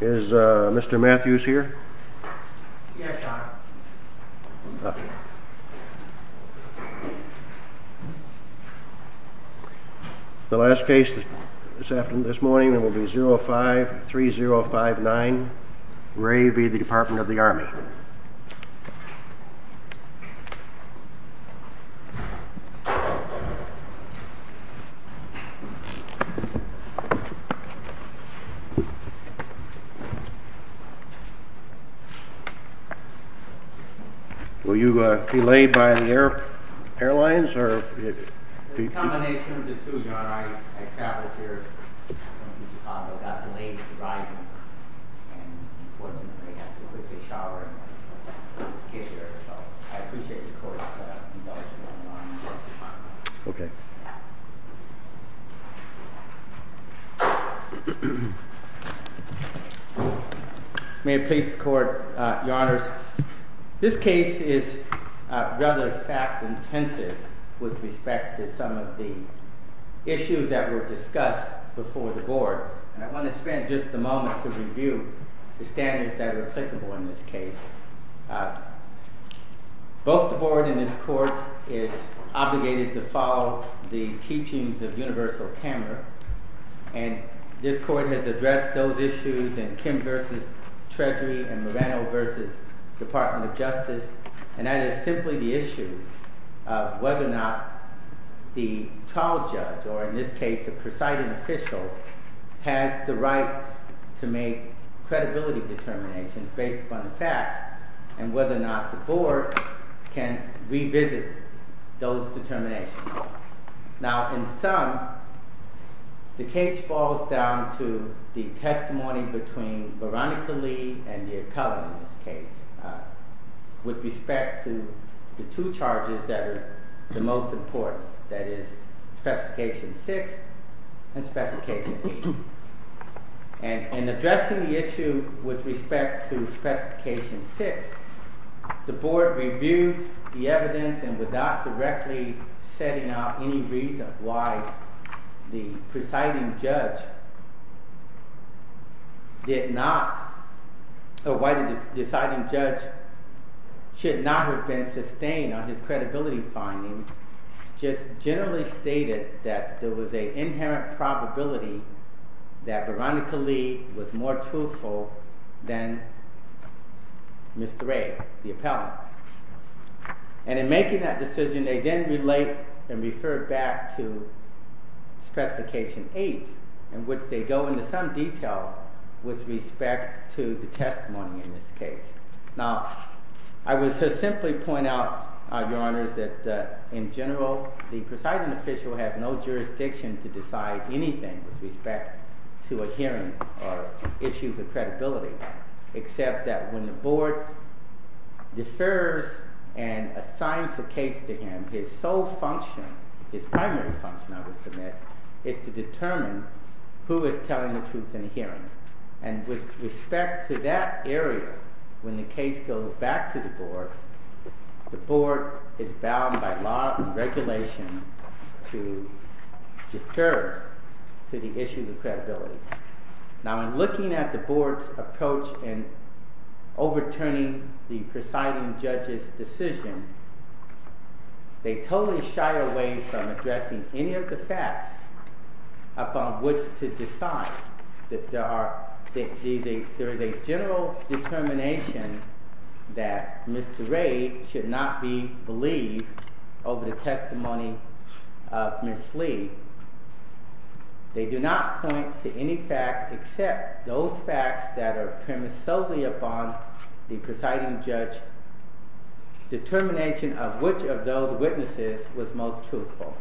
Is Mr. Matthews here? Yes sir. Okay. The last case this morning will be 053059 Ray v. Department of the Army. Will you be laid by the airlines? There's a combination of the two. I traveled here from Chicago, got delayed in arriving, and unfortunately I had to quickly shower and get here. So I appreciate the court's indulgence in the Army. Okay. May it please the court, your honors, this case is rather fact-intensive with respect to some of the issues discussed before the board. I want to spend just a moment to review the standards that are applicable in this case. Both the board and this court is obligated to follow the teachings of universal camera, and this court has addressed those issues in Kim v. Treasury and Moreno v. Department of Justice, and that is simply the issue of whether or not the trial judge, or in this case the presiding official, has the right to make credibility determinations based upon the facts, and whether or not the board can revisit those determinations. Now in sum, the case falls down to the testimony between Veronica Lee and the appellant in this case, with respect to the two charges that are the most important, that is Specification 6 and Specification 8. And in addressing the issue with respect to Specification 6, the board reviewed the evidence and without directly setting out any reason why the presiding judge did not, or why the deciding judge should not have been sustained on his credibility findings, just generally stated that there was an inherent probability that Veronica Lee was more truthful than Mr. Ray, the appellant. And in making that decision, they then relate and refer back to Specification 8, in which they go into some detail with respect to the testimony in this case. Now, I would simply point out your honors that in general, the presiding official has no jurisdiction to decide anything with respect to a hearing or issue of credibility, except that when the board defers and assigns a case to him, his sole function, his primary function I would submit, is to determine who is telling the truth in a hearing. And with respect to that area, when the case goes back to the board, the board is bound by law and regulation to defer to the issue of credibility. Now, in looking at the board's approach in overturning the presiding judge's decision, they totally shy away from addressing any of the facts upon which to decide. There is a general determination that Mr. Ray should not be believed over the testimony of Ms. Lee. They do not point to any facts except those facts that are premised solely upon the presiding judge's determination of which of those witnesses was most truthful.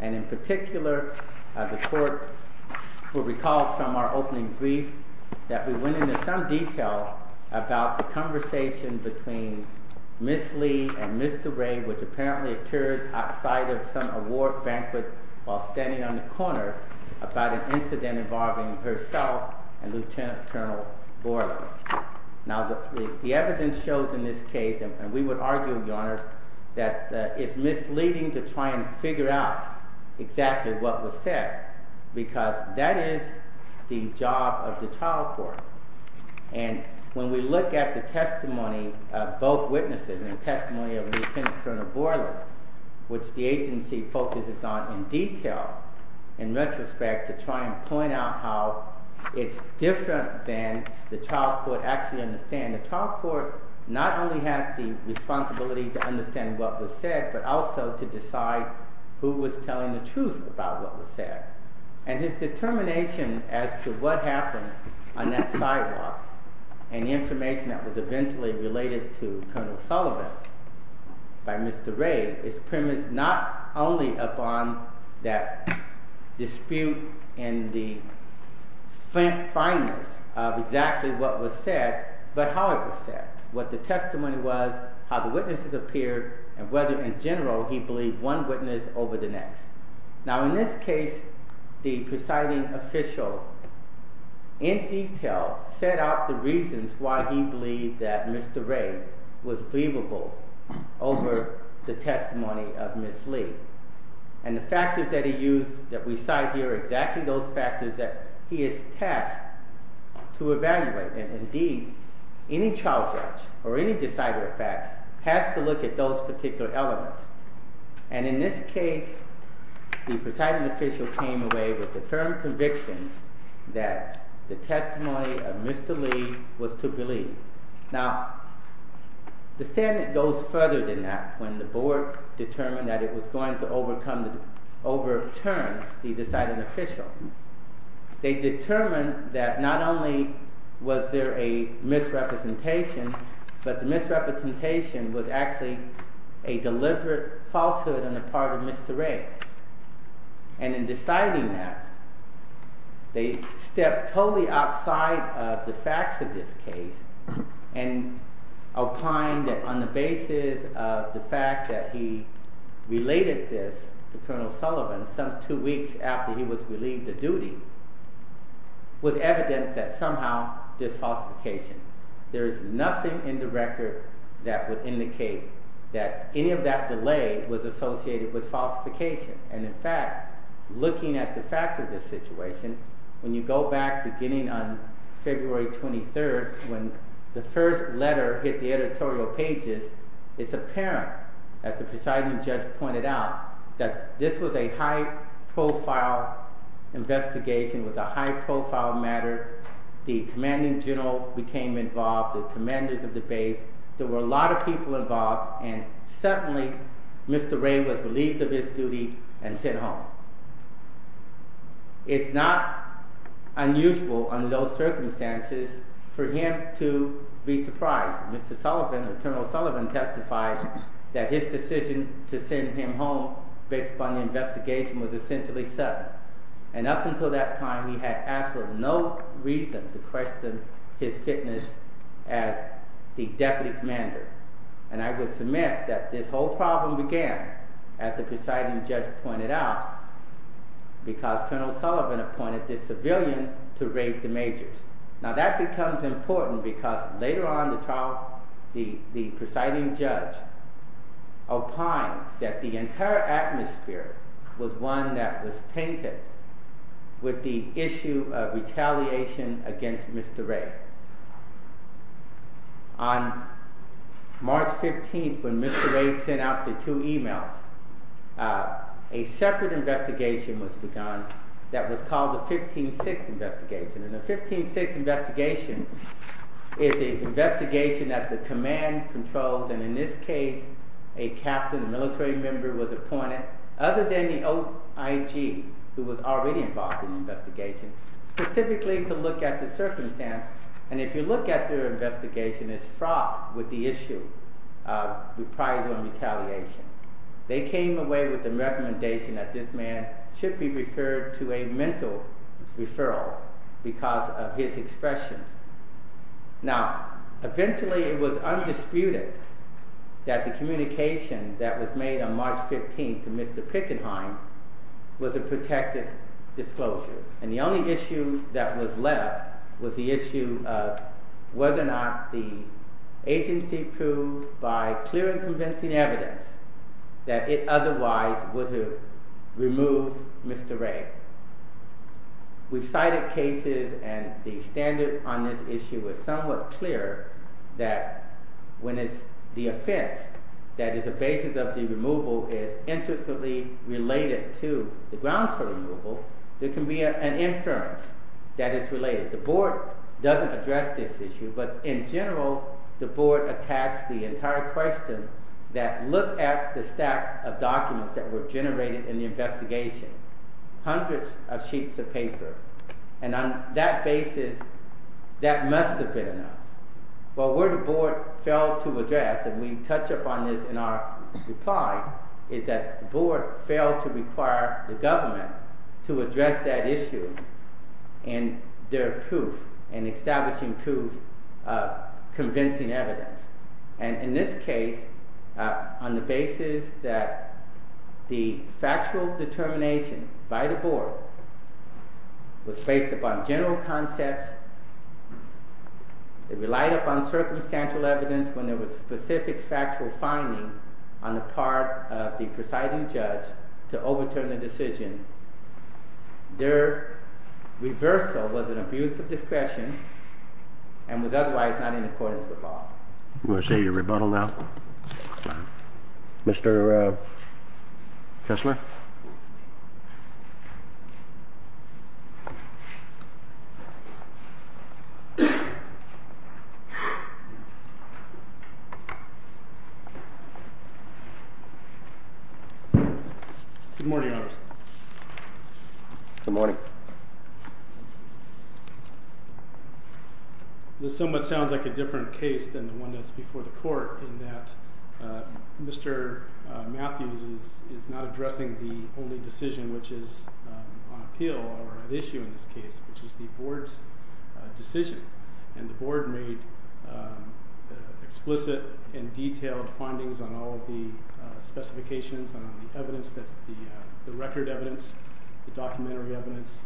And in particular, the court will recall from our opening brief that we went into some detail about the conversation between Ms. Lee and Mr. Ray, which apparently occurred outside of some award banquet while standing on the corner, about an incident involving herself and Lt. Col. Borland. Now, the evidence shows in this case, and we would argue, Your Honors, that it's misleading to try and figure out exactly what was said, because that is the job of the trial court. And when we look at the testimony of both witnesses, the testimony of Lt. Col. Borland, which the agency focuses on in detail, in retrospect, to try and point out how it's different than the trial court actually understand. The trial court not only had the responsibility to understand what was said, but also to decide who was telling the truth about what was said. And his determination as to what happened on that sidewalk, and the information that was eventually related to Colonel Sullivan by Mr. Ray, is premised not only upon that dispute in the fineness of exactly what was said, but how it was said. What the testimony was, how the witnesses appeared, and whether in general he believed one witness over the other, the presiding official, in detail, set out the reasons why he believed that Mr. Ray was believable over the testimony of Ms. Lee. And the factors that he used, that we cite here, exactly those factors that he is tasked to evaluate. And indeed, any trial judge, or any decider, in fact, has to look at those particular elements. And in this case, the presiding official came away with a firm conviction that the testimony of Mr. Lee was to believe. Now, the standard goes further than that when the board determined that it was going to overturn the deciding official. They determined that not only was there a misrepresentation, but the misrepresentation was actually a deliberate falsehood on the part of Mr. Ray. And in deciding that, they stepped totally outside of the facts of this case, and opined that on the basis of the fact that he related this to Colonel Sullivan some two weeks after he was relieved of duty, was evident that somehow there's falsification. There is nothing in the record that would indicate that any of that delay was associated with falsification. And in fact, looking at the facts of this situation, when you go back, beginning on February 23rd, when the first letter hit the editorial pages, it's apparent, as the presiding judge pointed out, that this was a high-profile investigation, was a high-profile matter. The commanding general became involved, the commanders of all, and suddenly Mr. Ray was relieved of his duty and sent home. It's not unusual under those circumstances for him to be surprised. Mr. Sullivan, or Colonel Sullivan, testified that his decision to send him home based upon the investigation was essentially sudden. And up until that time, he had absolutely no reason to question his fitness as the deputy commander. And I would submit that this whole problem began, as the presiding judge pointed out, because Colonel Sullivan appointed this civilian to raid the majors. Now that becomes important because later on, the presiding judge opines that the entire atmosphere was one that was tainted with the issue of retaliation against Mr. Ray. On March 15th, when Mr. Ray sent out the two emails, a separate investigation was begun that was called the 15-6 investigation. And the 15-6 investigation is an investigation that the command controls, and in this case, a captain, a military member was appointed, other than the OIG, who was already involved in the investigation, specifically to look at the circumstance. And if you look at their investigation, it's fraught with the issue of reprisal and retaliation. They came away with the recommendation that this man should be referred to a mental referral because of his expressions. Now, eventually it was undisputed that the communication that was made on March 15th to Mr. Pickenheim was a protected disclosure. And the only issue that was left was the issue of whether or not the agency proved, by clear and convincing evidence, that it otherwise would have removed Mr. Ray. We've cited cases and the standard on this issue is somewhat clear that when it's the offense that is the basis of the removal is intricately related to the grounds for removal, there can be an inference that it's related. The board doesn't address this issue, but in general, the board attacks the entire question that look at the evidence that were generated in the investigation. Hundreds of sheets of paper. And on that basis, that must have been enough. Well, where the board failed to address, and we touch upon this in our reply, is that the board failed to require the government to address that issue and their proof, and establishing proof, convincing evidence. And in this case, on the basis that the factual determination by the board was based upon general concepts, it relied upon circumstantial evidence when there was specific factual finding on the part of the presiding judge to overturn the decision. Their reversal was an abuse of discretion and was otherwise not in accordance with law. You want to say your rebuttal now? Mr. Kessler? Good morning. Good morning. This somewhat sounds like a different case than the one that's before the court in that Mr. Matthews is not addressing the only decision which is on appeal or an issue in this case, which is the board's decision. And the board made explicit and detailed findings on all of the specifications and on the evidence, that's the record evidence, the documentary evidence,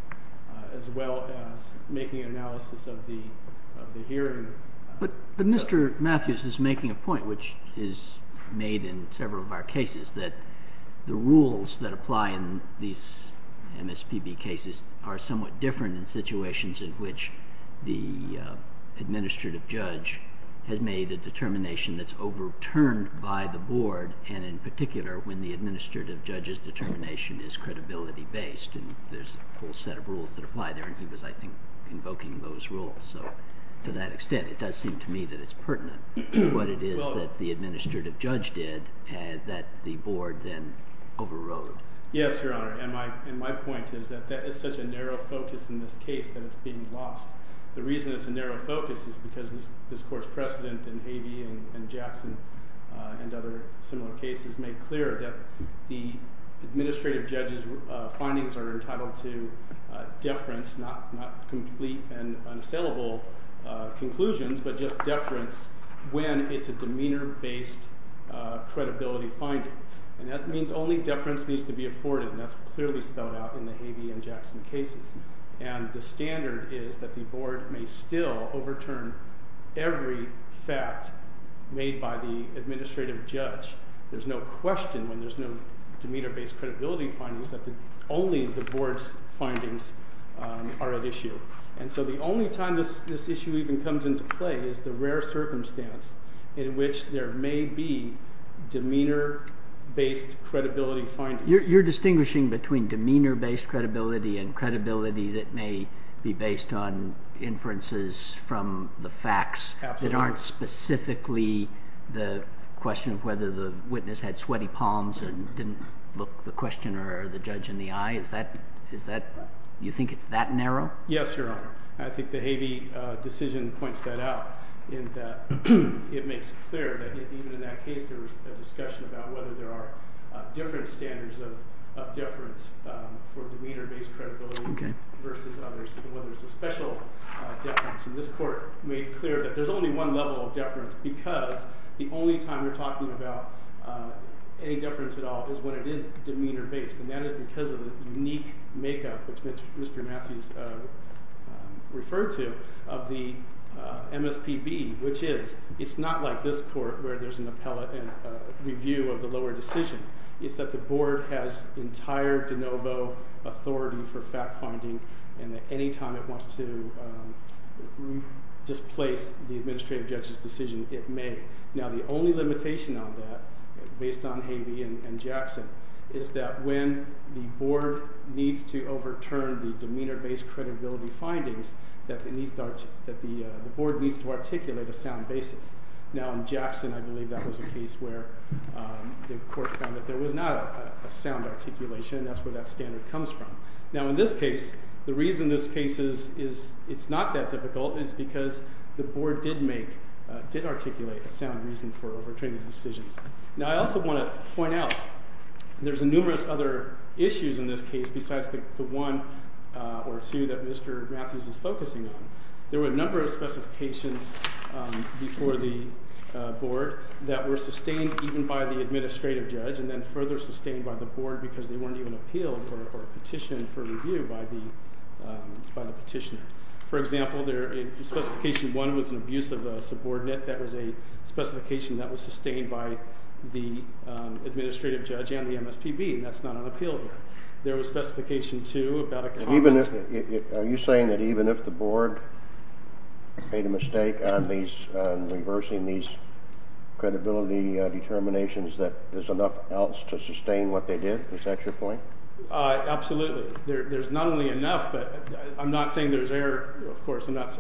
as well as making an analysis of the hearing. But Mr. Matthews is making a point, as we've made in several of our cases, that the rules that apply in these MSPB cases are somewhat different in situations in which the administrative judge has made a determination that's overturned by the board, and in particular, when the administrative judge's determination is credibility-based. And there's a full set of rules that apply there, and he was, I think, that the board then overrode. Yes, Your Honor, and my point is that that is such a narrow focus in this case that it's being lost. The reason it's a narrow focus is because this court's precedent in Havey and Jackson and other similar cases made clear that the administrative judge's findings are entitled to deference, not complete and unassailable conclusions, but just deference when it's a demeanor-based credibility finding. And that means only deference needs to be afforded, and that's clearly spelled out in the Havey and Jackson cases. And the standard is that the board may still overturn every fact made by the administrative judge. There's no question, when there's no demeanor-based credibility findings, that only the board's findings are at issue. And so the only time this issue even comes into play is the rare circumstance in which there may be demeanor-based credibility findings. You're distinguishing between demeanor-based credibility and credibility that may be based on inferences from the facts that aren't specifically the question of whether the witness had sweaty palms and didn't look the questioner or the judge in the eye. Do you think it's that narrow? Yes, Your Honor. I think the Havey decision points that out in that it makes clear that even in that case there was a discussion about whether there are different standards of deference for demeanor-based credibility versus others, whether it's a special deference. And this court made clear that there's only one level of deference because the only time we're talking about any deference at all is when it is demeanor-based. And that is because of the unique makeup, which Mr. Matthews referred to, of the MSPB, which is it's not like this court where there's an appellate review of the lower decision. It's that the board has entire de novo authority for fact-finding and that any time it wants to displace the administrative judge's decision, it may. Now the only limitation on that, based on Havey and Jackson, is that when the board needs to overturn the demeanor-based credibility findings, that the board needs to articulate a sound basis. Now in Jackson, I believe that was a case where the court found that there was not a sound articulation. That's where that standard comes from. Now in this case, the reason this case is not that difficult is because the board did articulate a sound reason for overturning the decisions. Now I also want to point out there's numerous other issues in this case besides the one or two that Mr. Matthews is focusing on. There were a number of specifications before the board that were sustained even by the administrative judge and then further sustained by the board because they weren't even appealed or petitioned for review by the petitioner. For example, Specification 1 was an abuse of a subordinate. That was a specification that was sustained by the administrative judge and the MSPB, and that's not on appeal here. There was Specification 2 about a comment. Are you saying that even if the board made a mistake on reversing these credibility determinations that there's enough else to sustain what they did? Is that your point? Absolutely. There's not only enough, but I'm not saying there's error, of course. I'm not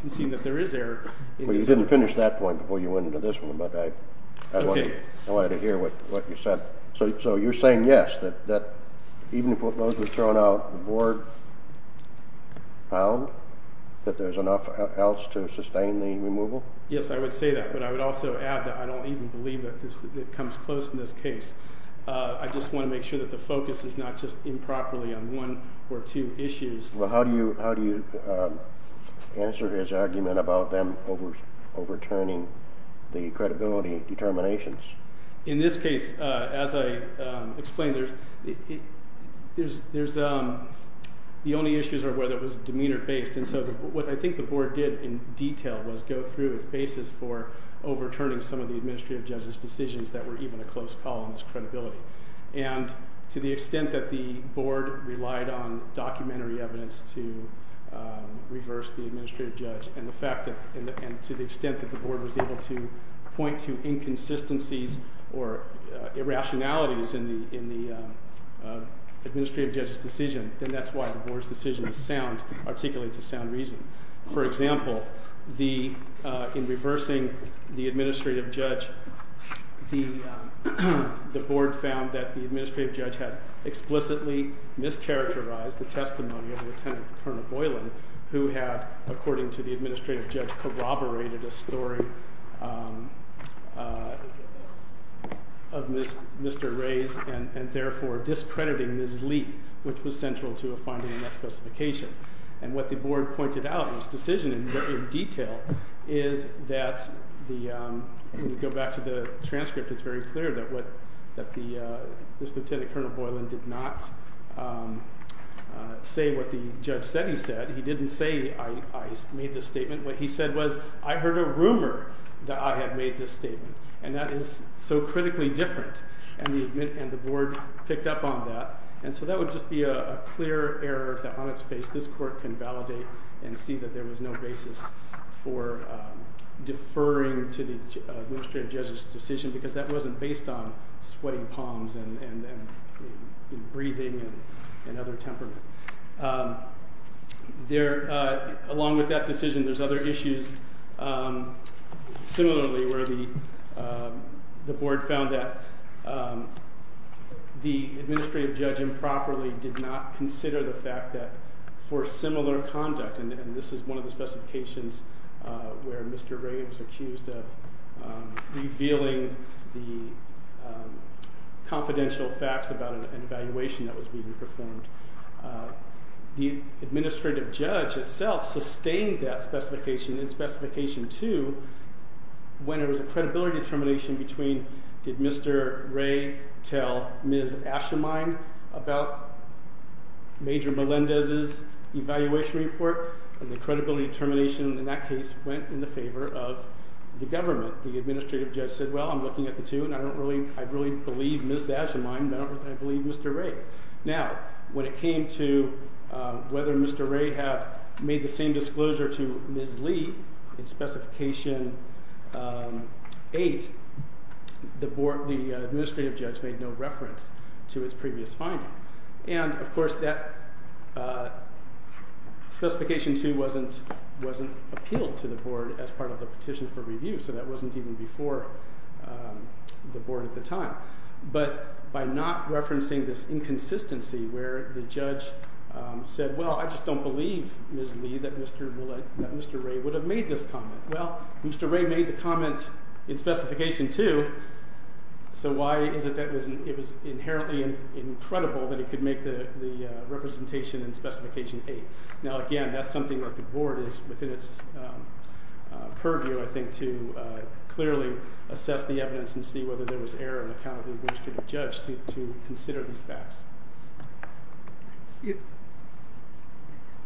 conceding that there is error. Well, you didn't finish that point before you went into this one, but I wanted to hear what you said. So you're saying yes, that even if those were thrown out, the board found that there's enough else to sustain the removal? Yes, I would say that, but I would also add that I don't even believe that it comes close in this case. I just want to make sure that the focus is not just improperly on one or two issues. Well, how do you answer his argument about them overturning the credibility determinations? In this case, as I explained, the only issues are whether it was demeanor-based, and so what I think the board did in detail was go through its basis for overturning some of the administrative judge's decisions that were even a close call on its credibility. And to the extent that the board relied on documentary evidence to reverse the administrative judge and to the extent that the board was able to point to inconsistencies or irrationalities in the administrative judge's decision, then that's why the board's decision articulates a sound reason. For example, in reversing the administrative judge, the board found that the administrative judge had explicitly mischaracterized the testimony of Lieutenant Colonel Boylan, who had, according to the administrative judge, corroborated a story of Mr. Ray's and therefore discrediting Ms. Lee, which was central to a finding in that specification. And what the board pointed out in this decision in detail is that – when you go back to the transcript, it's very clear that this Lieutenant Colonel Boylan did not say what the judge said he said. He didn't say, I made this statement. What he said was, I heard a rumor that I had made this statement, and that is so critically different. And the board picked up on that, and so that would just be a clear error on its face. This court can validate and see that there was no basis for deferring to the administrative judge's decision because that wasn't based on sweating palms and breathing and other temperament. Along with that decision, there's other issues similarly where the board found that the administrative judge improperly did not consider the fact that for similar conduct – and this is one of the specifications where Mr. Ray was accused of revealing the confidential facts about an evaluation that was being performed – the administrative judge itself sustained that specification in Specification 2 when there was a credibility determination between, did Mr. Ray tell Ms. Aschermein about Major Melendez's evaluation report? And the credibility determination in that case went in the favor of the government. The administrative judge said, well, I'm looking at the two, and I don't really believe Ms. Aschermein, but I don't really believe Mr. Ray. Now, when it came to whether Mr. Ray had made the same disclosure to Ms. Lee in Specification 8, the board, the administrative judge made no reference to its previous finding. And, of course, that Specification 2 wasn't appealed to the board as part of the petition for review, so that wasn't even before the board at the time. But by not referencing this inconsistency where the judge said, well, I just don't believe, Ms. Lee, that Mr. Ray would have made this comment. Well, Mr. Ray made the comment in Specification 2, so why is it that it was inherently incredible that he could make the representation in Specification 8? Now, again, that's something that the board is within its purview, I think, to clearly assess the evidence and see whether there was error in the account of the administrative judge to consider these facts.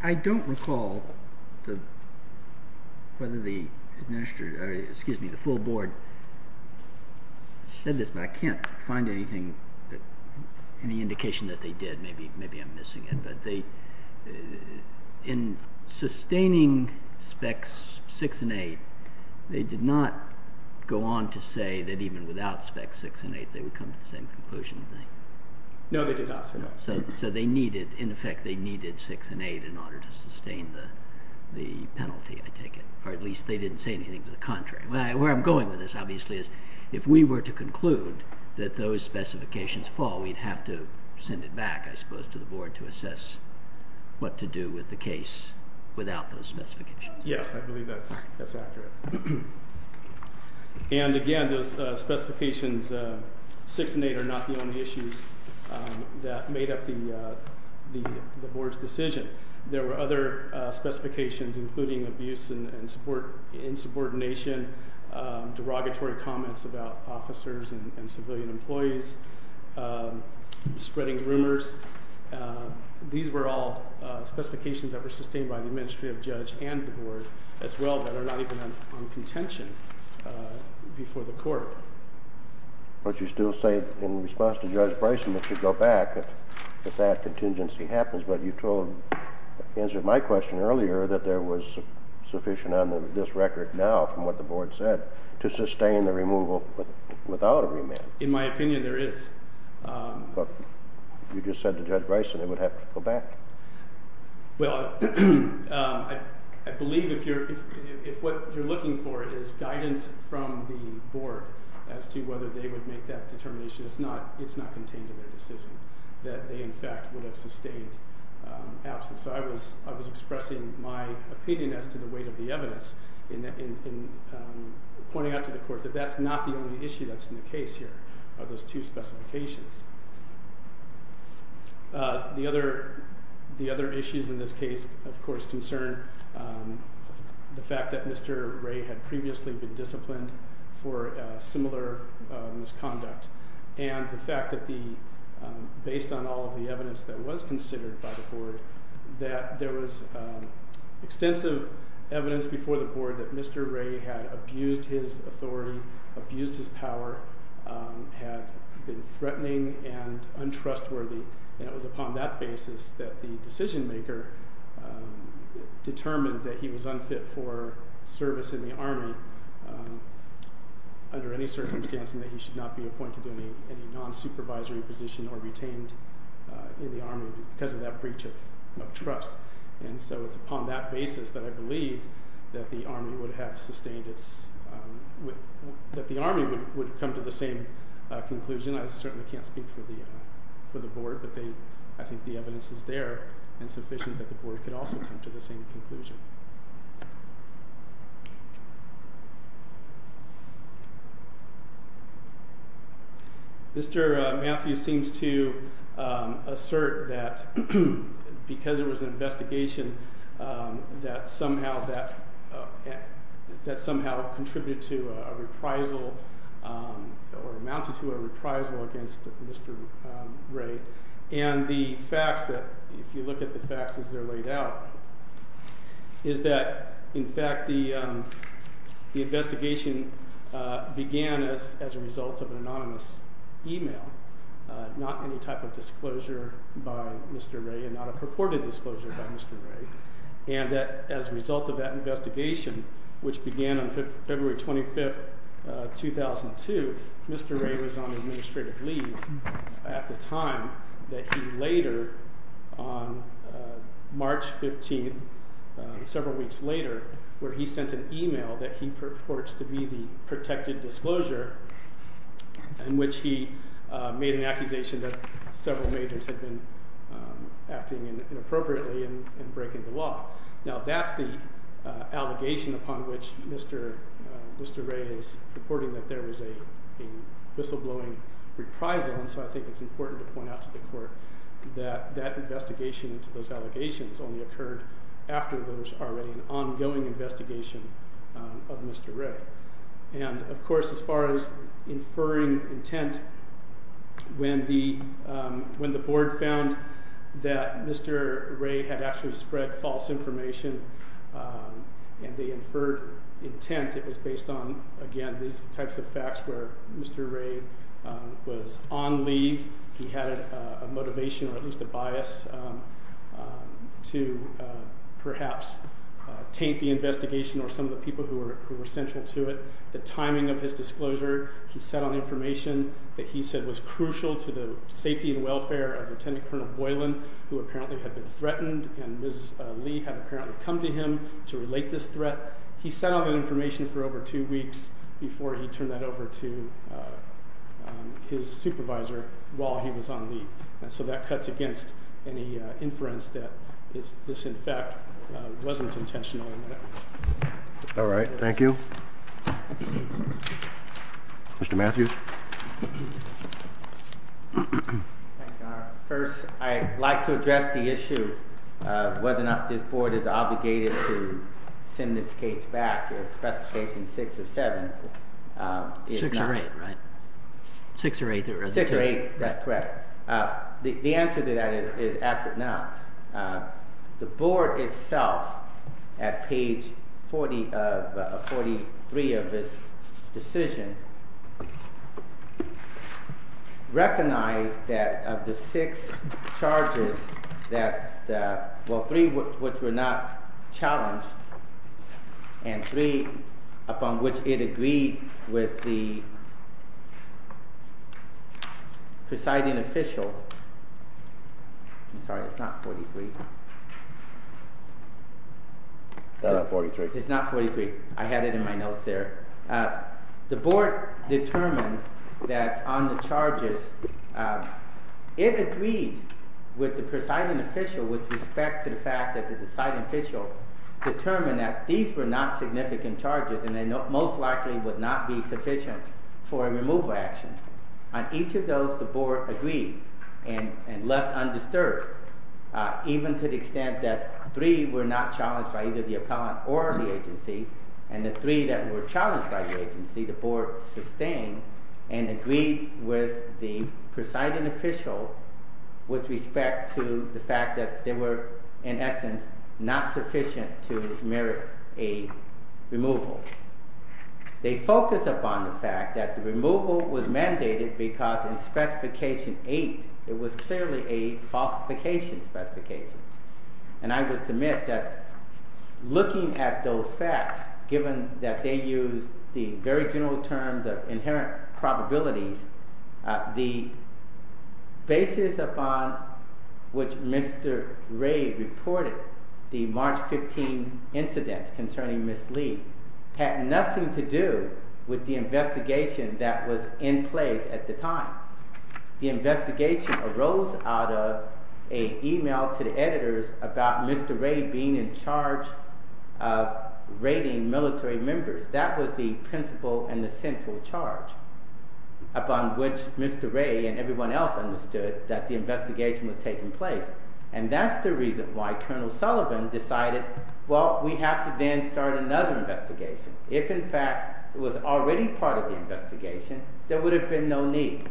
I don't recall whether the full board said this, but I can't find any indication that they did. Maybe I'm missing it, but in sustaining Specs 6 and 8, they did not go on to say that even without Specs 6 and 8 they would come to the same conclusion. No, they did not say that. So they needed, in effect, they needed 6 and 8 in order to sustain the penalty, I take it. Or at least they didn't say anything to the contrary. Where I'm going with this, obviously, is if we were to conclude that those specifications fall, we'd have to send it back, I suppose, to the board to assess what to do with the case without those specifications. Yes, I believe that's accurate. And, again, those specifications 6 and 8 are not the only issues that made up the board's decision. There were other specifications, including abuse and insubordination, derogatory comments about officers and civilian employees, spreading rumors. These were all specifications that were sustained by the administrative judge and the board as well that are not even on contention before the court. But you still say, in response to Judge Bryson, it should go back if that contingency happens. But you told, in answer to my question earlier, that there was sufficient on this record now, from what the board said, to sustain the removal without a remand. In my opinion, there is. But you just said to Judge Bryson it would have to go back. Well, I believe if what you're looking for is guidance from the board as to whether they would make that determination, it's not contained in their decision that they, in fact, would have sustained absence. So I was expressing my opinion as to the weight of the evidence in pointing out to the court that that's not the only issue that's in the case here of those two specifications. The other issues in this case, of course, concern the fact that Mr. Ray had previously been disciplined for similar misconduct. And the fact that, based on all of the evidence that was considered by the board, that there was extensive evidence before the board that Mr. Ray had abused his authority, abused his power, had been threatening and untrustworthy. And it was upon that basis that the decision-maker determined that he was unfit for service in the Army under any circumstance and that he should not be appointed to any non-supervisory position or retained in the Army because of that breach of trust. And so it's upon that basis that I believe that the Army would have sustained its—that the Army would come to the same conclusion. I certainly can't speak for the board, but I think the evidence is there and sufficient that the board could also come to the same conclusion. Mr. Matthews seems to assert that because it was an investigation that somehow that—that somehow contributed to a reprisal or amounted to a reprisal against Mr. Ray. And the facts that—if you look at the facts as they're laid out, is that, in fact, the investigation began as a result of an anonymous email, not any type of disclosure by Mr. Ray and not a purported disclosure by Mr. Ray. And that as a result of that investigation, which began on February 25, 2002, Mr. Ray was on administrative leave at the time that he later, on March 15, several weeks later, where he sent an email that he purports to be the protected disclosure in which he made an accusation that several majors had been acting inappropriately and breaking the law. Now, that's the allegation upon which Mr. Ray is reporting that there was a whistleblowing reprisal, and so I think it's important to point out to the court that that investigation into those allegations only occurred after there was already an ongoing investigation of Mr. Ray. And, of course, as far as inferring intent, when the—when the board found that Mr. Ray had actually spread false information and they inferred intent, it was based on, again, these types of facts where Mr. Ray was on leave. He had a motivation or at least a bias to perhaps taint the investigation or some of the people who were central to it. All right, thank you. Mr. Matthews. First, I'd like to address the issue of whether or not this board is obligated to send this case back if Specification 6 or 7 is not— 6 or 8, right? 6 or 8, that's correct. The answer to that is absolutely not. I'm sorry, it's not 43. It's not 43. It's not 43. I had it in my notes there. The board determined that on the charges, it agreed with the presiding official with respect to the fact that the presiding official determined that these were not significant charges and they most likely would not be sufficient for a removal action. On each of those, the board agreed and left undisturbed, even to the extent that three were not challenged by either the appellant or the agency, and the three that were challenged by the agency, the board sustained and agreed with the presiding official with respect to the fact that they were, in essence, not sufficient to merit a removal. They focused upon the fact that the removal was mandated because in Specification 8, it was clearly a falsification specification. And I would submit that looking at those facts, given that they use the very general terms of inherent probabilities, the basis upon which Mr. Ray reported the March 15 incidents concerning Ms. Lee had nothing to do with the investigation that was in place at the time. The investigation arose out of an email to the editors about Mr. Ray being in charge of raiding military members. That was the principle and the central charge upon which Mr. Ray and everyone else understood that the investigation was taking place. And that's the reason why Colonel Sullivan decided, well, we have to then start another investigation. If, in fact, it was already part of the investigation, there would have been no need.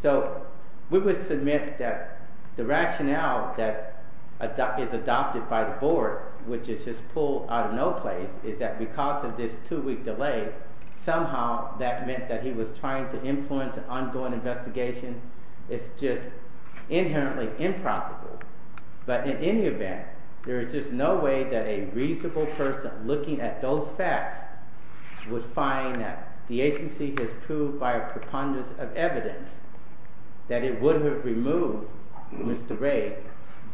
So we would submit that the rationale that is adopted by the board, which is just pulled out of no place, is that because of this two-week delay, somehow that meant that he was trying to influence an ongoing investigation. It's just inherently improbable. But in any event, there is just no way that a reasonable person looking at those facts would find that the agency has proved by a preponderance of evidence that it would have removed Mr. Ray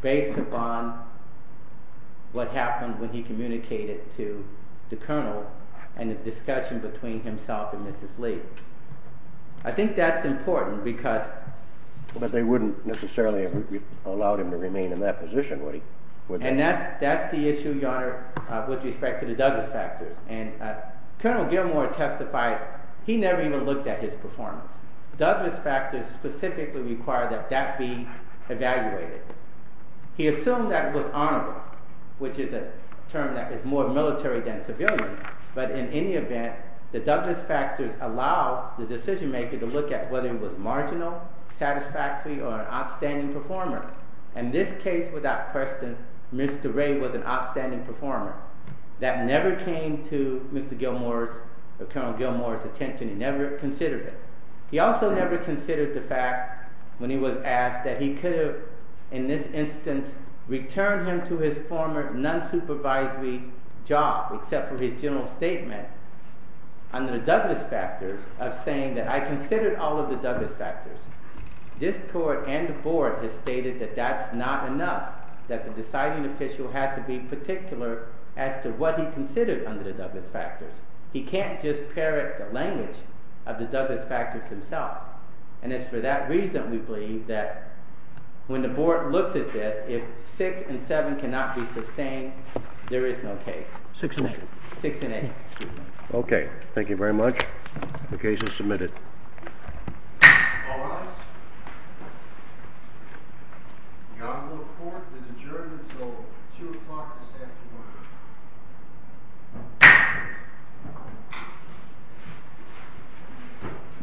based upon what happened when he communicated to the colonel and the discussion between himself and Mrs. Lee. I think that's important because— But they wouldn't necessarily have allowed him to remain in that position, would they? And that's the issue, Your Honor, with respect to the Douglas factors. And Colonel Gilmore testified he never even looked at his performance. Douglas factors specifically require that that be evaluated. He assumed that it was honorable, which is a term that is more military than civilian. But in any event, the Douglas factors allow the decision-maker to look at whether it was marginal, satisfactory, or an outstanding performer. In this case, without question, Mr. Ray was an outstanding performer. That never came to Mr. Gilmore's or Colonel Gilmore's attention. He never considered it. He also never considered the fact when he was asked that he could have, in this instance, returned him to his former non-supervisory job, except for his general statement under the Douglas factors, of saying that I considered all of the Douglas factors. This court and the board has stated that that's not enough, that the deciding official has to be particular as to what he considered under the Douglas factors. He can't just parrot the language of the Douglas factors himself. And it's for that reason, we believe, that when the board looks at this, if 6 and 7 cannot be sustained, there is no case. 6 and 8. 6 and 8, excuse me. Okay. Thank you very much. The case is submitted. All rise. The honorable court has adjourned until 2 o'clock this afternoon. Thank you.